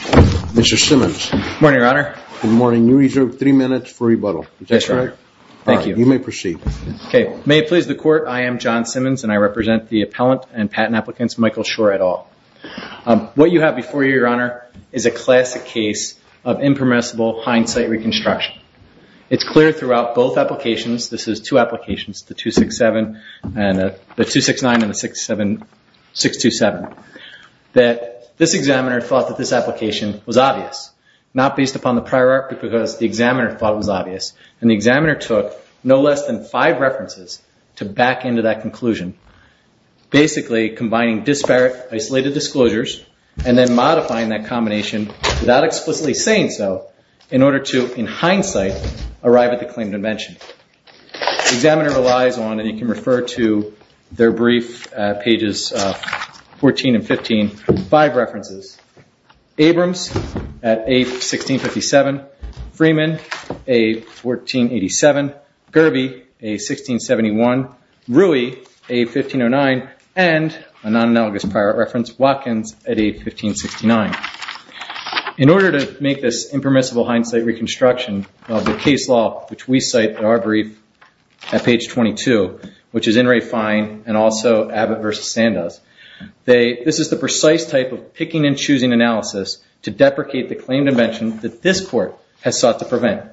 Mr. Simmons. Morning, Your Honor. Good morning. You reserve three minutes for rebuttal. That's right. Thank you. You may proceed. Okay. May it please the Court, I am John Simmons and I represent the appellant and patent applicants Michael Shore et al. What you have before you, Your Honor, is a classic case of impermissible hindsight reconstruction. It's clear throughout both applications, this is two applications, the 269 and the 627, that this examiner thought that this application was obvious, not based upon the prior art, but because the examiner thought it was obvious. And the examiner took no less than five references to back into that conclusion, basically combining disparate isolated disclosures and then modifying that combination without explicitly saying so, in order to, in hindsight, arrive at the claim invention. The examiner relies on, and you can refer to their brief pages 14 and 15, five references. Abrams at age 1657, Freeman, age 1487, Gerby, age 1671, Rui, age 1509, and a non-analogous prior art reference, Watkins, at age 1569. In order to make this cite our brief at page 22, which is in refine and also Abbott versus Sandoz, this is the precise type of picking and choosing analysis to deprecate the claimed invention that this court has sought to prevent.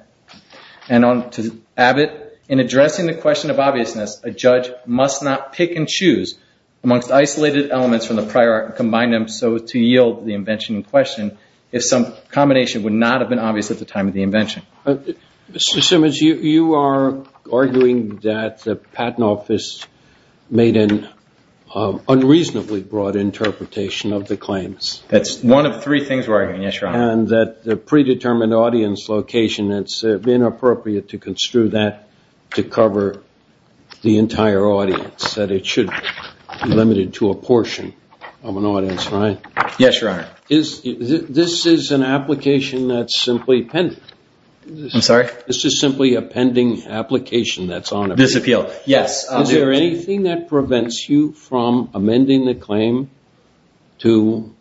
And to Abbott, in addressing the question of obviousness, a judge must not pick and choose amongst isolated elements from the prior art and combine them so to yield the invention in question, if some combination would not have been obvious at the time of the You are arguing that the Patent Office made an unreasonably broad interpretation of the claims. That's one of three things we're arguing, yes, your honor. And that the predetermined audience location, it's been appropriate to construe that to cover the entire audience, that it should be limited to a portion of an audience, right? Yes, your honor. This is an application that's simply pending. I'm sorry? This is simply a pending application that's on appeal. Yes. Is there anything that prevents you from amending the claim to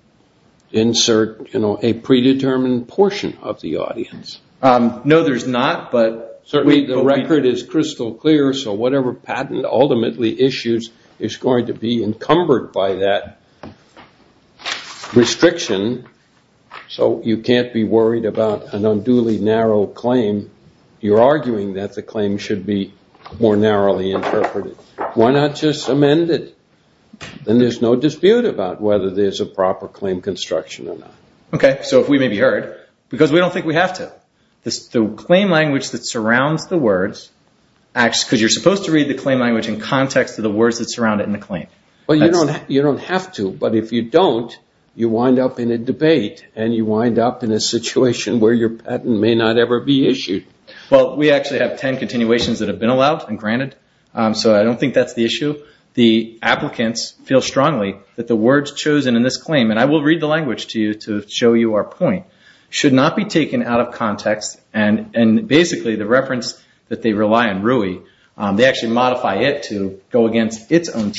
insert, you know, a predetermined portion of the audience? No, there's not, but certainly the record is crystal clear, so whatever patent ultimately issues is going to be narrow claim, you're arguing that the claim should be more narrowly interpreted. Why not just amend it? Then there's no dispute about whether there's a proper claim construction or not. Okay, so if we may be heard, because we don't think we have to. The claim language that surrounds the words acts, because you're supposed to read the claim language in context of the words that surround it in the claim. Well, you don't have to, but if you don't, you wind up in a debate, and you wind up in a situation where your patent may not ever be issued. Well, we actually have ten continuations that have been allowed and granted, so I don't think that's the issue. The applicants feel strongly that the words chosen in this claim, and I will read the language to you to show you our point, should not be taken out of context, and basically the reference that they rely on, RUI, they actually modify it to go against its own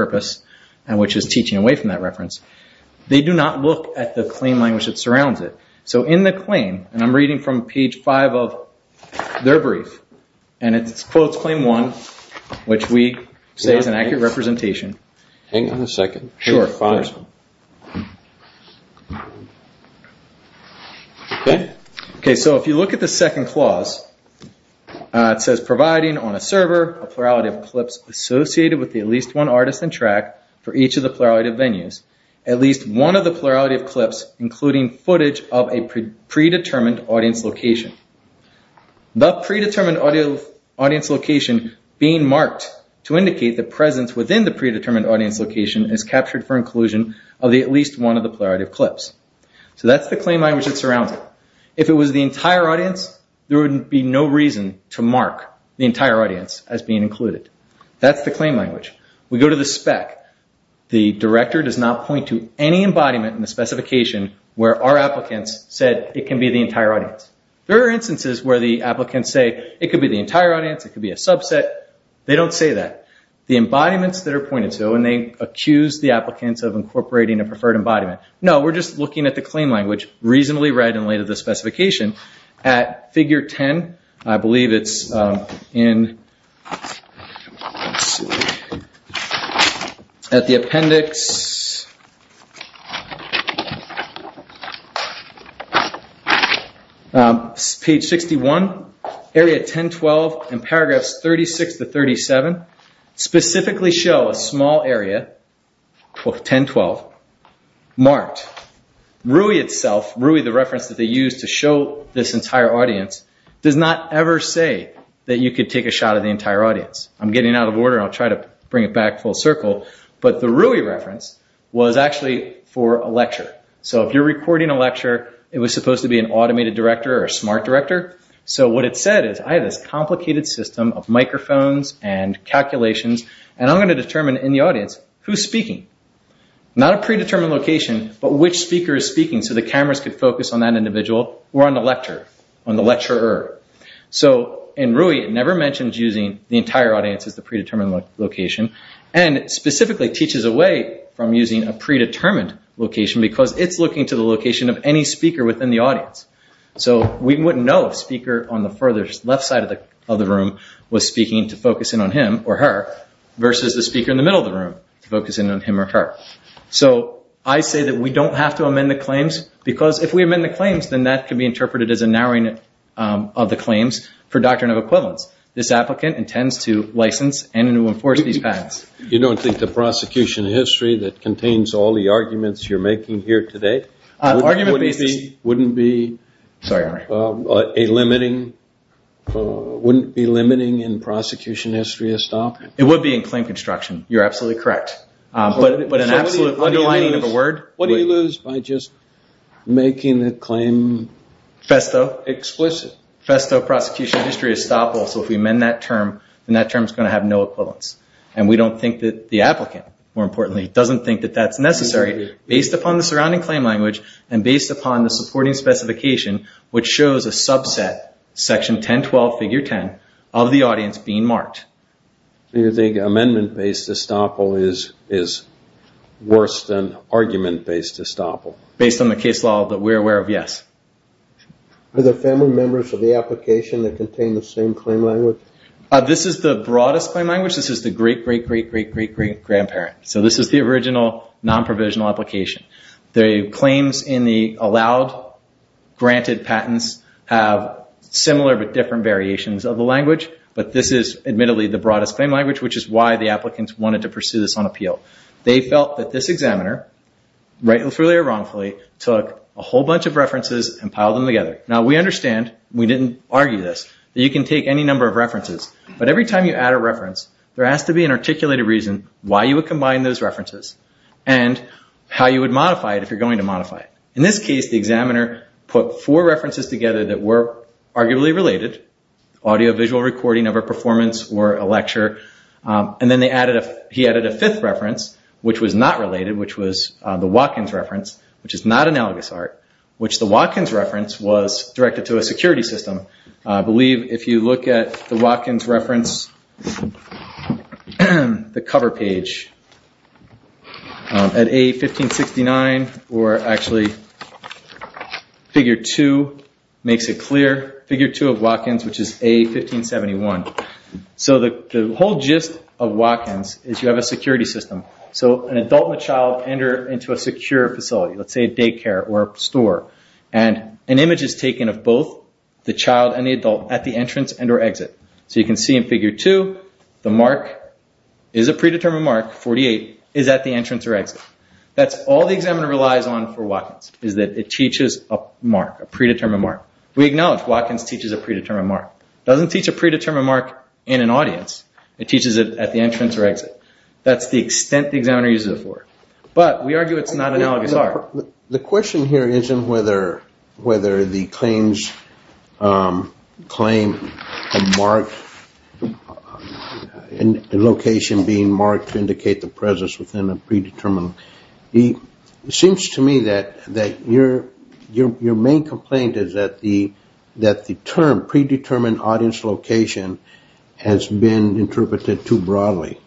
purpose, and which is teaching away from that reference. They do not look at the claim language that surrounds it. So in the claim, and I'm reading from page five of their brief, and it's quotes claim one, which we say is an accurate representation. Hang on a second. Sure, fine. Okay, so if you look at the second clause, it says providing on a server a plurality of clips associated with the least one artist in track for each of the plurality of venues, at least one of the plurality of clips including footage of a predetermined audience location. The predetermined audience location being marked to indicate the presence within the predetermined audience location is captured for inclusion of the at least one of the plurality of clips. So that's the claim language that surrounds it. If it was the entire audience, there would be no reason to mark the entire audience as being included. That's the claim language. We go to the spec. The director does not point to any embodiment in the specification where our applicants said it can be the entire audience. There are instances where the applicants say it could be the entire audience, it could be a subset. They don't say that. The embodiments that are pointed to, and they accuse the applicants of incorporating a preferred embodiment. No, we're just looking at the claim language reasonably read and laid to the specification. At figure 10, I believe it's in, let's see, at the appendix, page 61, area 1012, and paragraphs 36 to 37, specifically show a small area, 1012, marked. RUI itself, RUI the reference that they use to show this entire audience, does not ever say that you could take a shot of the entire audience. I'm getting out of order, I'll try to bring it back full circle, but the RUI reference was actually for a lecture. So if you're recording a lecture, it was supposed to be an automated director or a smart director. So what it said is, I have this complicated system of microphones and calculations, and I'm going to determine in the audience who's speaking. Not a predetermined location, but which speaker is speaking so the individual, or on the lecturer. So in RUI, it never mentions using the entire audience as the predetermined location, and specifically teaches away from using a predetermined location because it's looking to the location of any speaker within the audience. So we wouldn't know if the speaker on the furthest left side of the room was speaking to focus in on him or her, versus the speaker in the middle of the room to focus in on him or her. So I say that we don't have to amend the claims, because if we amend the claims, then that can be interpreted as a narrowing of the claims for doctrine of equivalence. This applicant intends to license and to enforce these patents. You don't think the prosecution history that contains all the arguments you're making here today, wouldn't be a limiting, wouldn't be limiting in prosecution history of stock? It would be in claim construction, you're absolutely correct. But an absolute underlining of the word? What do you lose by just making the claim FESTO? Explicit. FESTO, prosecution history of estoppel. So if we amend that term, then that term is going to have no equivalence. And we don't think that the applicant, more importantly, doesn't think that that's necessary based upon the surrounding claim language, and based upon the supporting specification, which shows a subset, section 1012, figure 10, of the audience being marked. You think amendment-based estoppel is worse than argument-based estoppel? Based on the case law that we're aware of, yes. Are there family members of the application that contain the same claim language? This is the broadest claim language. This is the great-great-great-great-great-great-great-grandparent. So this is the original non-provisional application. The claims in the allowed, granted patents have similar but different variations of the language, but this is admittedly the why the applicants wanted to pursue this on appeal. They felt that this examiner, rightfully or wrongfully, took a whole bunch of references and piled them together. Now we understand, we didn't argue this, that you can take any number of references, but every time you add a reference, there has to be an articulated reason why you would combine those references, and how you would modify it if you're going to modify it. In this case, the examiner put four references together that were arguably related, audio-visual recording of a case, and then he added a fifth reference, which was not related, which was the Watkins reference, which is not analogous art, which the Watkins reference was directed to a security system. I believe if you look at the Watkins reference, the cover page, at A1569, or actually figure two makes it clear, figure two of Watkins is you have a security system. So an adult and a child enter into a secure facility, let's say a daycare or a store, and an image is taken of both the child and the adult at the entrance and or exit. So you can see in figure two, the mark is a predetermined mark, 48, is at the entrance or exit. That's all the examiner relies on for Watkins, is that it teaches a mark, a predetermined mark. We acknowledge Watkins teaches a predetermined mark. It doesn't teach a mark at the entrance or exit. That's the extent the examiner uses it for. But we argue it's not analogous art. The question here isn't whether the claims claim a mark, a location being marked to indicate the presence within a predetermined. It seems to me that your main complaint is that the term predetermined audience location has been interpreted too broadly.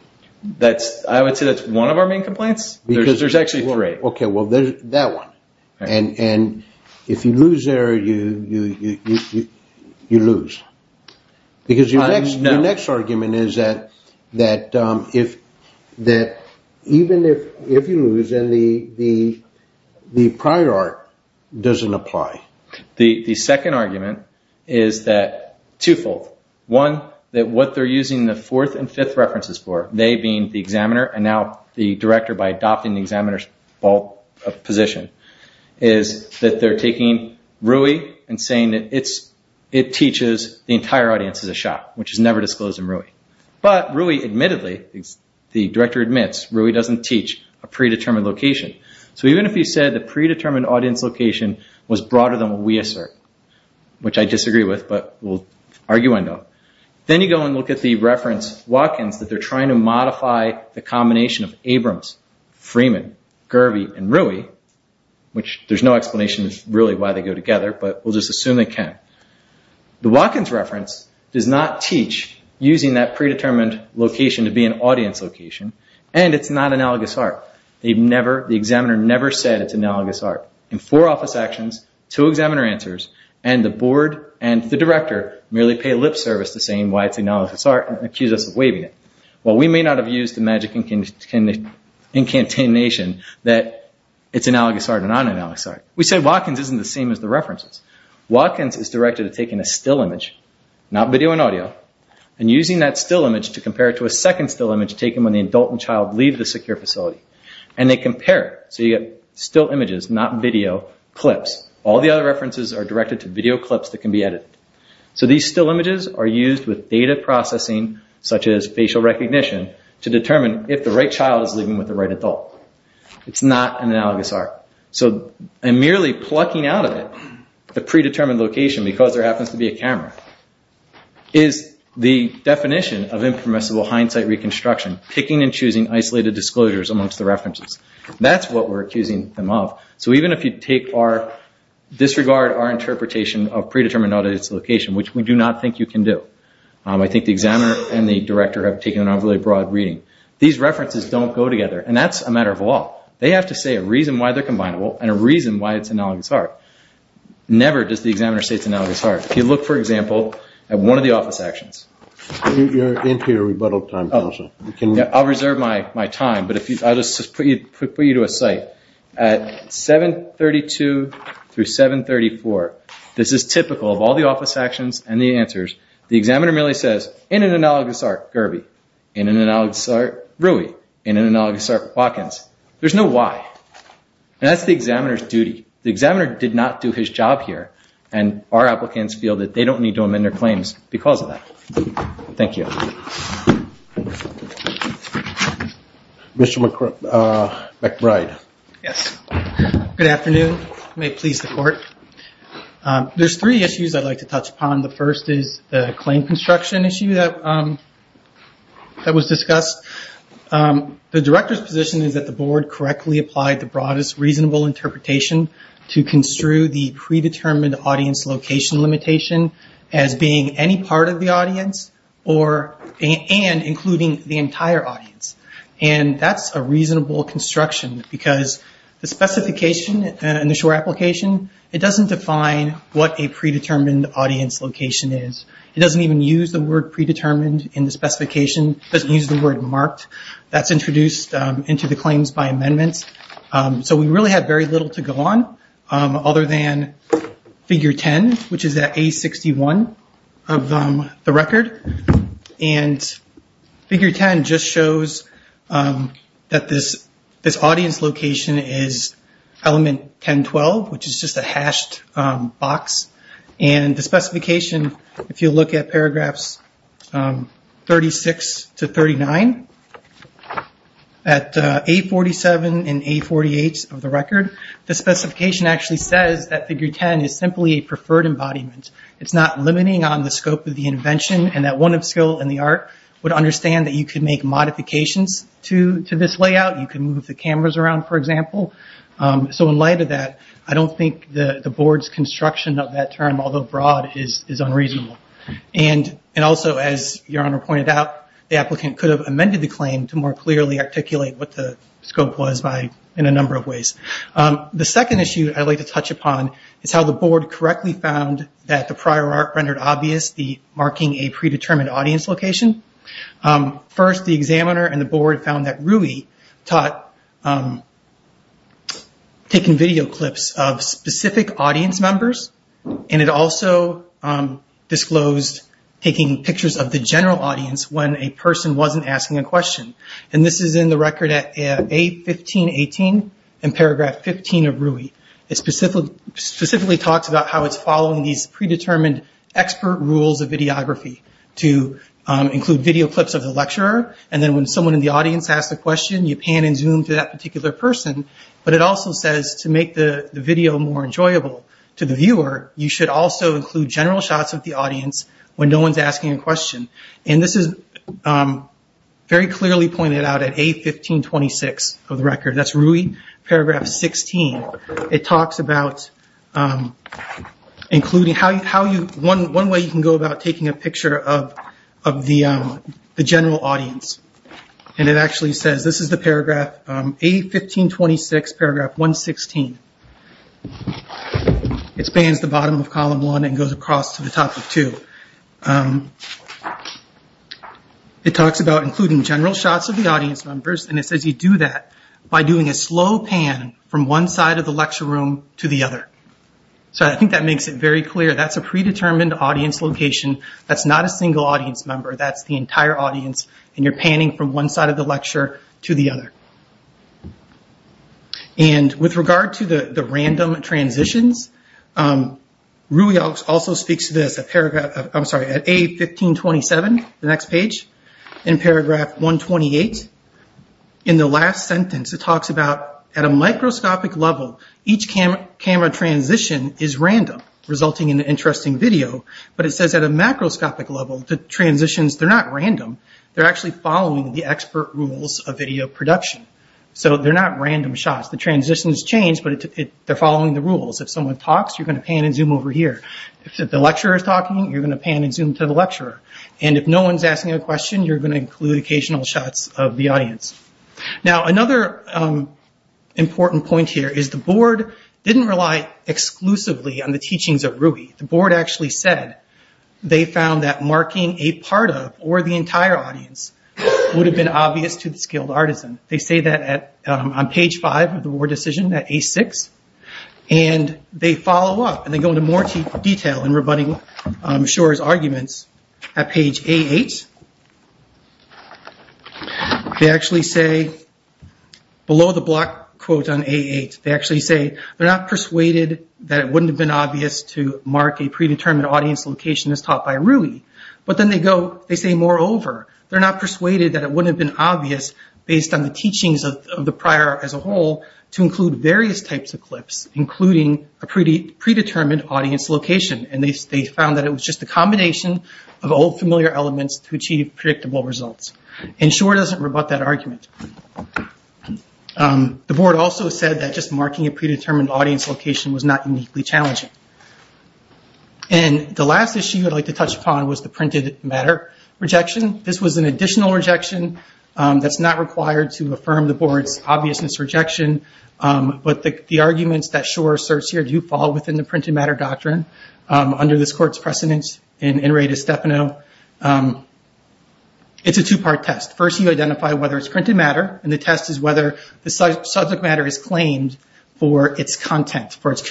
I would say that's one of our main complaints, because there's actually three. Okay, well there's that one. And if you lose there, you lose. Because your next argument is that even if you lose, the prior art doesn't apply. The second argument is that twofold. One, that what they're using the fourth and fifth references for, they being the examiner and now the director by adopting the examiner's position, is that they're taking RUI and saying that it teaches the entire audience as a shot, which is never disclosed in RUI. But RUI, admittedly, the director admits, RUI doesn't teach a predetermined location. Even if you said the predetermined audience location was broader than what we assert, which I disagree with, but we'll argue I don't, then you go and look at the reference Watkins that they're trying to modify the combination of Abrams, Freeman, Gervie, and RUI, which there's no explanation as to really why they go together, but we'll just assume they can. The Watkins reference does not teach using that predetermined location to be an audience location, and it's not analogous art. The examiner never said it's analogous art. In four office actions, two examiner answers, and the board and the director merely pay lip service to saying why it's analogous art and accuse us of waiving it. While we may not have used the magic incantation that it's analogous art and non-analogous art, we said Watkins isn't the same as the references. Watkins is directed at taking a still image, not video and audio, and using that still image to compare it to a second still image taken when the adult and child leave the secure facility. They compare, so you get still images, not video, clips. All the other references are directed to video clips that can be edited. These still images are used with data processing, such as facial recognition, to determine if the right child is living with the right adult. It's not an analogous art. Merely plucking out of it the predetermined location, because there happens to be a camera, is the definition of impermissible hindsight reconstruction, picking and choosing isolated disclosures amongst the references. That's what we're accusing them of. Even if you disregard our interpretation of predetermined audience location, which we do not think you can do, I think the examiner and the director have taken an overly broad reading, these references don't go together, and that's a matter of law. They have to say a reason why they're combinable and a reason why it's analogous art. Never does the examiner say it's analogous art. If you look, for example, at one of the office actions, I'll reserve my time, but I'll just put you to a site. At 732 through 734, this is typical of all the office actions and the answers. The analogous art walk-ins, there's no why. That's the examiner's duty. The examiner did not do his job here, and our applicants feel that they don't need to amend their claims because of that. Thank you. Mr. McBride. Yes. Good afternoon. May it please the court. There's three issues I'd like to touch upon. The first is the claim construction issue that was discussed. The director's position is that the board correctly applied the broadest reasonable interpretation to construe the predetermined audience location limitation as being any part of the audience and including the entire audience. That's a reasonable construction because the specification in the short application, it doesn't define what a predetermined in the specification. It doesn't use the word marked. That's introduced into the claims by amendments. We really had very little to go on other than figure 10, which is that A61 of the record. Figure 10 just shows that this audience location is element 1012, which is a hashed box. The specification, if you look at paragraphs 36 to 39, at A47 and A48 of the record, the specification actually says that figure 10 is simply a preferred embodiment. It's not limiting on the scope of the invention and that one of skill and the art would understand that you could make modifications to this layout. You can move the cameras around, for example. In light of that, I don't think the board's construction of that term, although broad, is unreasonable. Also, as Your Honor pointed out, the applicant could have amended the claim to more clearly articulate what the scope was in a number of ways. The second issue I'd like to touch upon is how the board correctly found that the prior art rendered obvious the marking a predetermined audience location. First, the examiner and the board found that Rui taught by taking video clips of specific audience members and it also disclosed taking pictures of the general audience when a person wasn't asking a question. This is in the record at A1518 in paragraph 15 of Rui. It specifically talks about how it's following these predetermined expert rules of videography to include video clips of the lecturer. Then when someone in that particular person, but it also says to make the video more enjoyable to the viewer, you should also include general shots of the audience when no one's asking a question. This is very clearly pointed out at A1526 of the record. That's Rui, paragraph 16. It talks about including how you, one way you can go about taking a picture of the general audience. It actually says, this is the paragraph A1526, paragraph 116. It spans the bottom of column one and goes across to the top of two. It talks about including general shots of the audience members and it says you do that by doing a slow pan from one side of the lecture room to the other. I think that makes it very clear. That's a predetermined audience location. That's not a single audience member. That's the audience and you're panning from one side of the lecture to the other. With regard to the random transitions, Rui also speaks to this at A1527, the next page, in paragraph 128. In the last sentence, it talks about at a microscopic level, each camera transition is random, resulting in an interesting video. It says at a macroscopic level, the transitions are random. They're actually following the expert rules of video production. They're not random shots. The transitions change, but they're following the rules. If someone talks, you're going to pan and zoom over here. If the lecturer's talking, you're going to pan and zoom to the lecturer. If no one's asking a question, you're going to include occasional shots of the audience. Another important point here is the board didn't rely exclusively on the teachings of Rui. The marking a part of or the entire audience would have been obvious to the skilled artisan. They say that on page five of the board decision at A6. They follow up and they go into more detail in rebutting Shor's arguments at page A8. They actually say, below the block quote on A8, they actually say, they're not persuaded that it wouldn't have been obvious to mark a predetermined audience location as taught by Rui. But then they go, they say, moreover, they're not persuaded that it wouldn't have been obvious based on the teachings of the prior as a whole to include various types of clips, including a predetermined audience location. They found that it was just a combination of old familiar elements to achieve predictable results. Shor doesn't rebut that argument. The board also said that just marking a predetermined audience location was not uniquely challenging. The last issue I'd like to touch upon was the printed matter rejection. This was an additional rejection that's not required to affirm the board's obviousness rejection. But the arguments that Shor asserts here do fall within the printed matter doctrine under this court's precedence in In Re De Stefano. It's a two-part test. First, you identify whether it's printed matter, and the test is whether the subject matter is claimed for its content, for its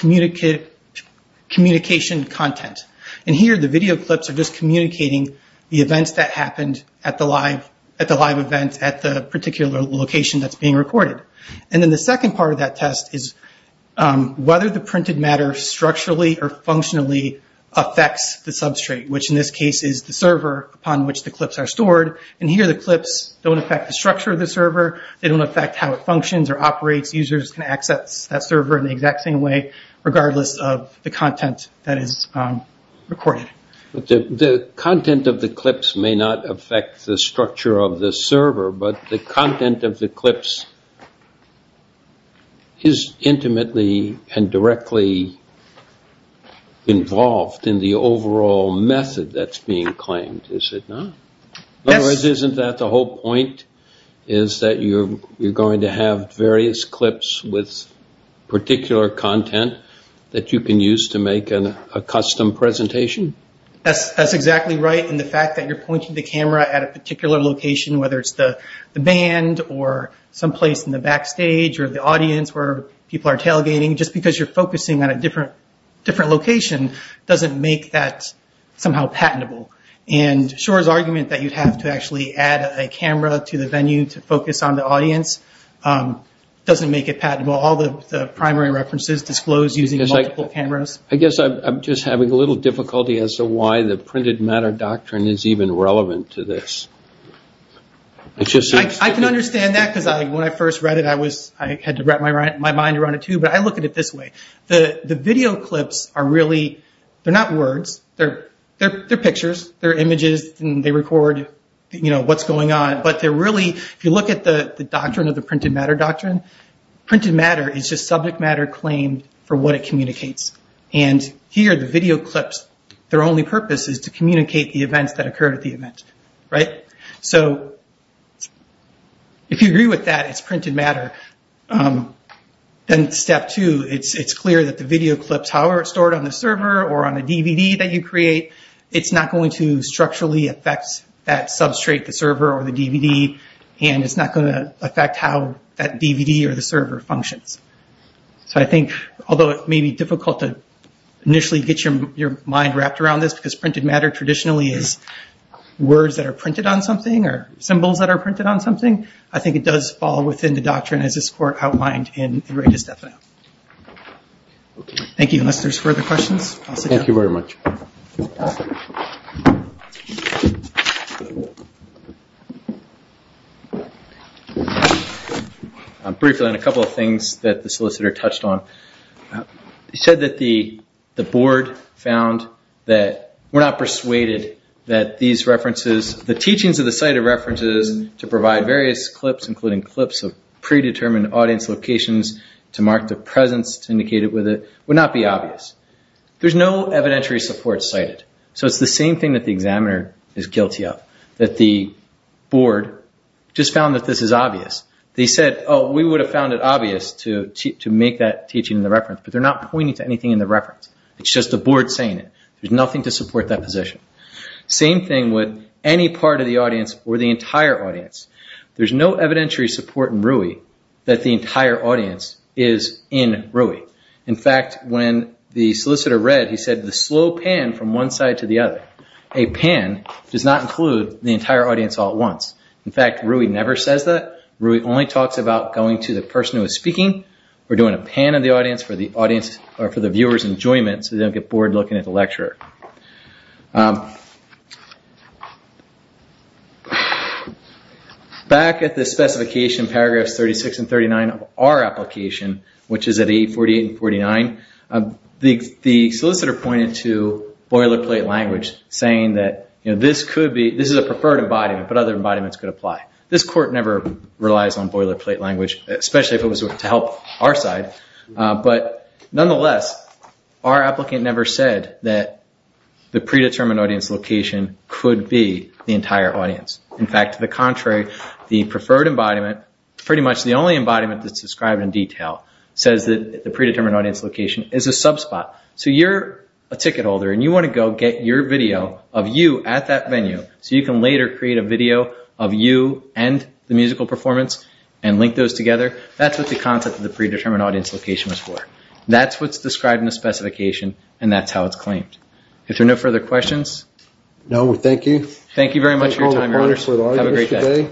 communication content. Here, the video clips are just communicating the events that happened at the live event at the particular location that's being recorded. Then the second part of that test is whether the printed matter structurally or functionally affects the substrate, which in this case is the server upon which the clips are stored. Here, the clips don't affect the structure of the server. They don't affect how it functions or operates. Users can access that server in the exact same way, regardless of the content that is recorded. The content of the clips may not affect the structure of the server, but the content of the clips is affected. Isn't that the whole point, is that you're going to have various clips with particular content that you can use to make a custom presentation? That's exactly right. The fact that you're pointing the camera at a particular location, whether it's the band or someplace in the backstage or the audience where people are tailgating, just because you're focusing on a different location doesn't make that somehow patentable. Shor's argument that you'd have to actually add a camera to the venue to focus on the audience doesn't make it patentable. All the primary references disclose using multiple cameras. I guess I'm just having a little difficulty as to why the printed matter doctrine is even relevant to this. I can understand that because when I first read it, I had to wrap my mind around it too, but I look at it this way. The video clips are really, they're not words, they're pictures, they're images and they record what's going on. If you look at the doctrine of the printed matter doctrine, printed matter is just subject matter claimed for what it communicates. Here, the video clips, their only purpose is to communicate the events that occurred at the event. If you agree with that, it's printed matter, then step two, it's clear that the video clips, however stored on the server or on the DVD that you create, it's not going to structurally affect that substrate, the server or the DVD, and it's not going to affect how that DVD or the server functions. Although it may be difficult to initially get your mind wrapped around this, because printed on something or symbols that are printed on something, I think it does fall within the doctrine as this court outlined in the rate of stephano. Thank you. Unless there's further questions, I'll sit down. Thank you very much. Briefly, on a couple of things that the solicitor touched on, he said that the board found that we're not persuaded that these references, the teachings of the cited references to provide various clips, including clips of predetermined audience locations to mark the presence indicated with it, would not be obvious. There's no evidentiary support cited. So it's the same thing that the examiner is guilty of, that the board just found that this is obvious. They said, oh, we would have found it obvious to make that teaching in the reference, but they're not pointing to anything in the reference. It's just the board saying it. There's nothing to support that position. Same thing with any part of the audience or the entire audience. There's no evidentiary support in RUI that the entire audience is in RUI. In fact, when the solicitor read, he said, the slow pan from one side to the other. A pan does not include the entire audience all at once. In fact, RUI never says that. RUI only talks about going to the person who is speaking or doing a pan of the audience or for the viewer's enjoyment so they don't get bored looking at the lecturer. Back at the specification paragraphs 36 and 39 of our application, which is at 848 and 49, the solicitor pointed to boilerplate language saying that this is a preferred embodiment, but other embodiments could apply. This court never relies on boilerplate language, especially if it was to help our side. But nonetheless, our applicant never said that the predetermined audience location could be the entire audience. In fact, to the contrary, the preferred embodiment, pretty much the only embodiment that's described in detail, says that the predetermined audience location is a sub-spot. So you're a ticket holder and you want to go get your video of you at that venue so you can later create a video of you and the musical performance and link those together. That's what the concept of the predetermined audience location was for. That's what's described in the specification and that's how it's claimed. If there are no further questions. No, thank you. Thank you very much for your time, Your Honor. Have a great day.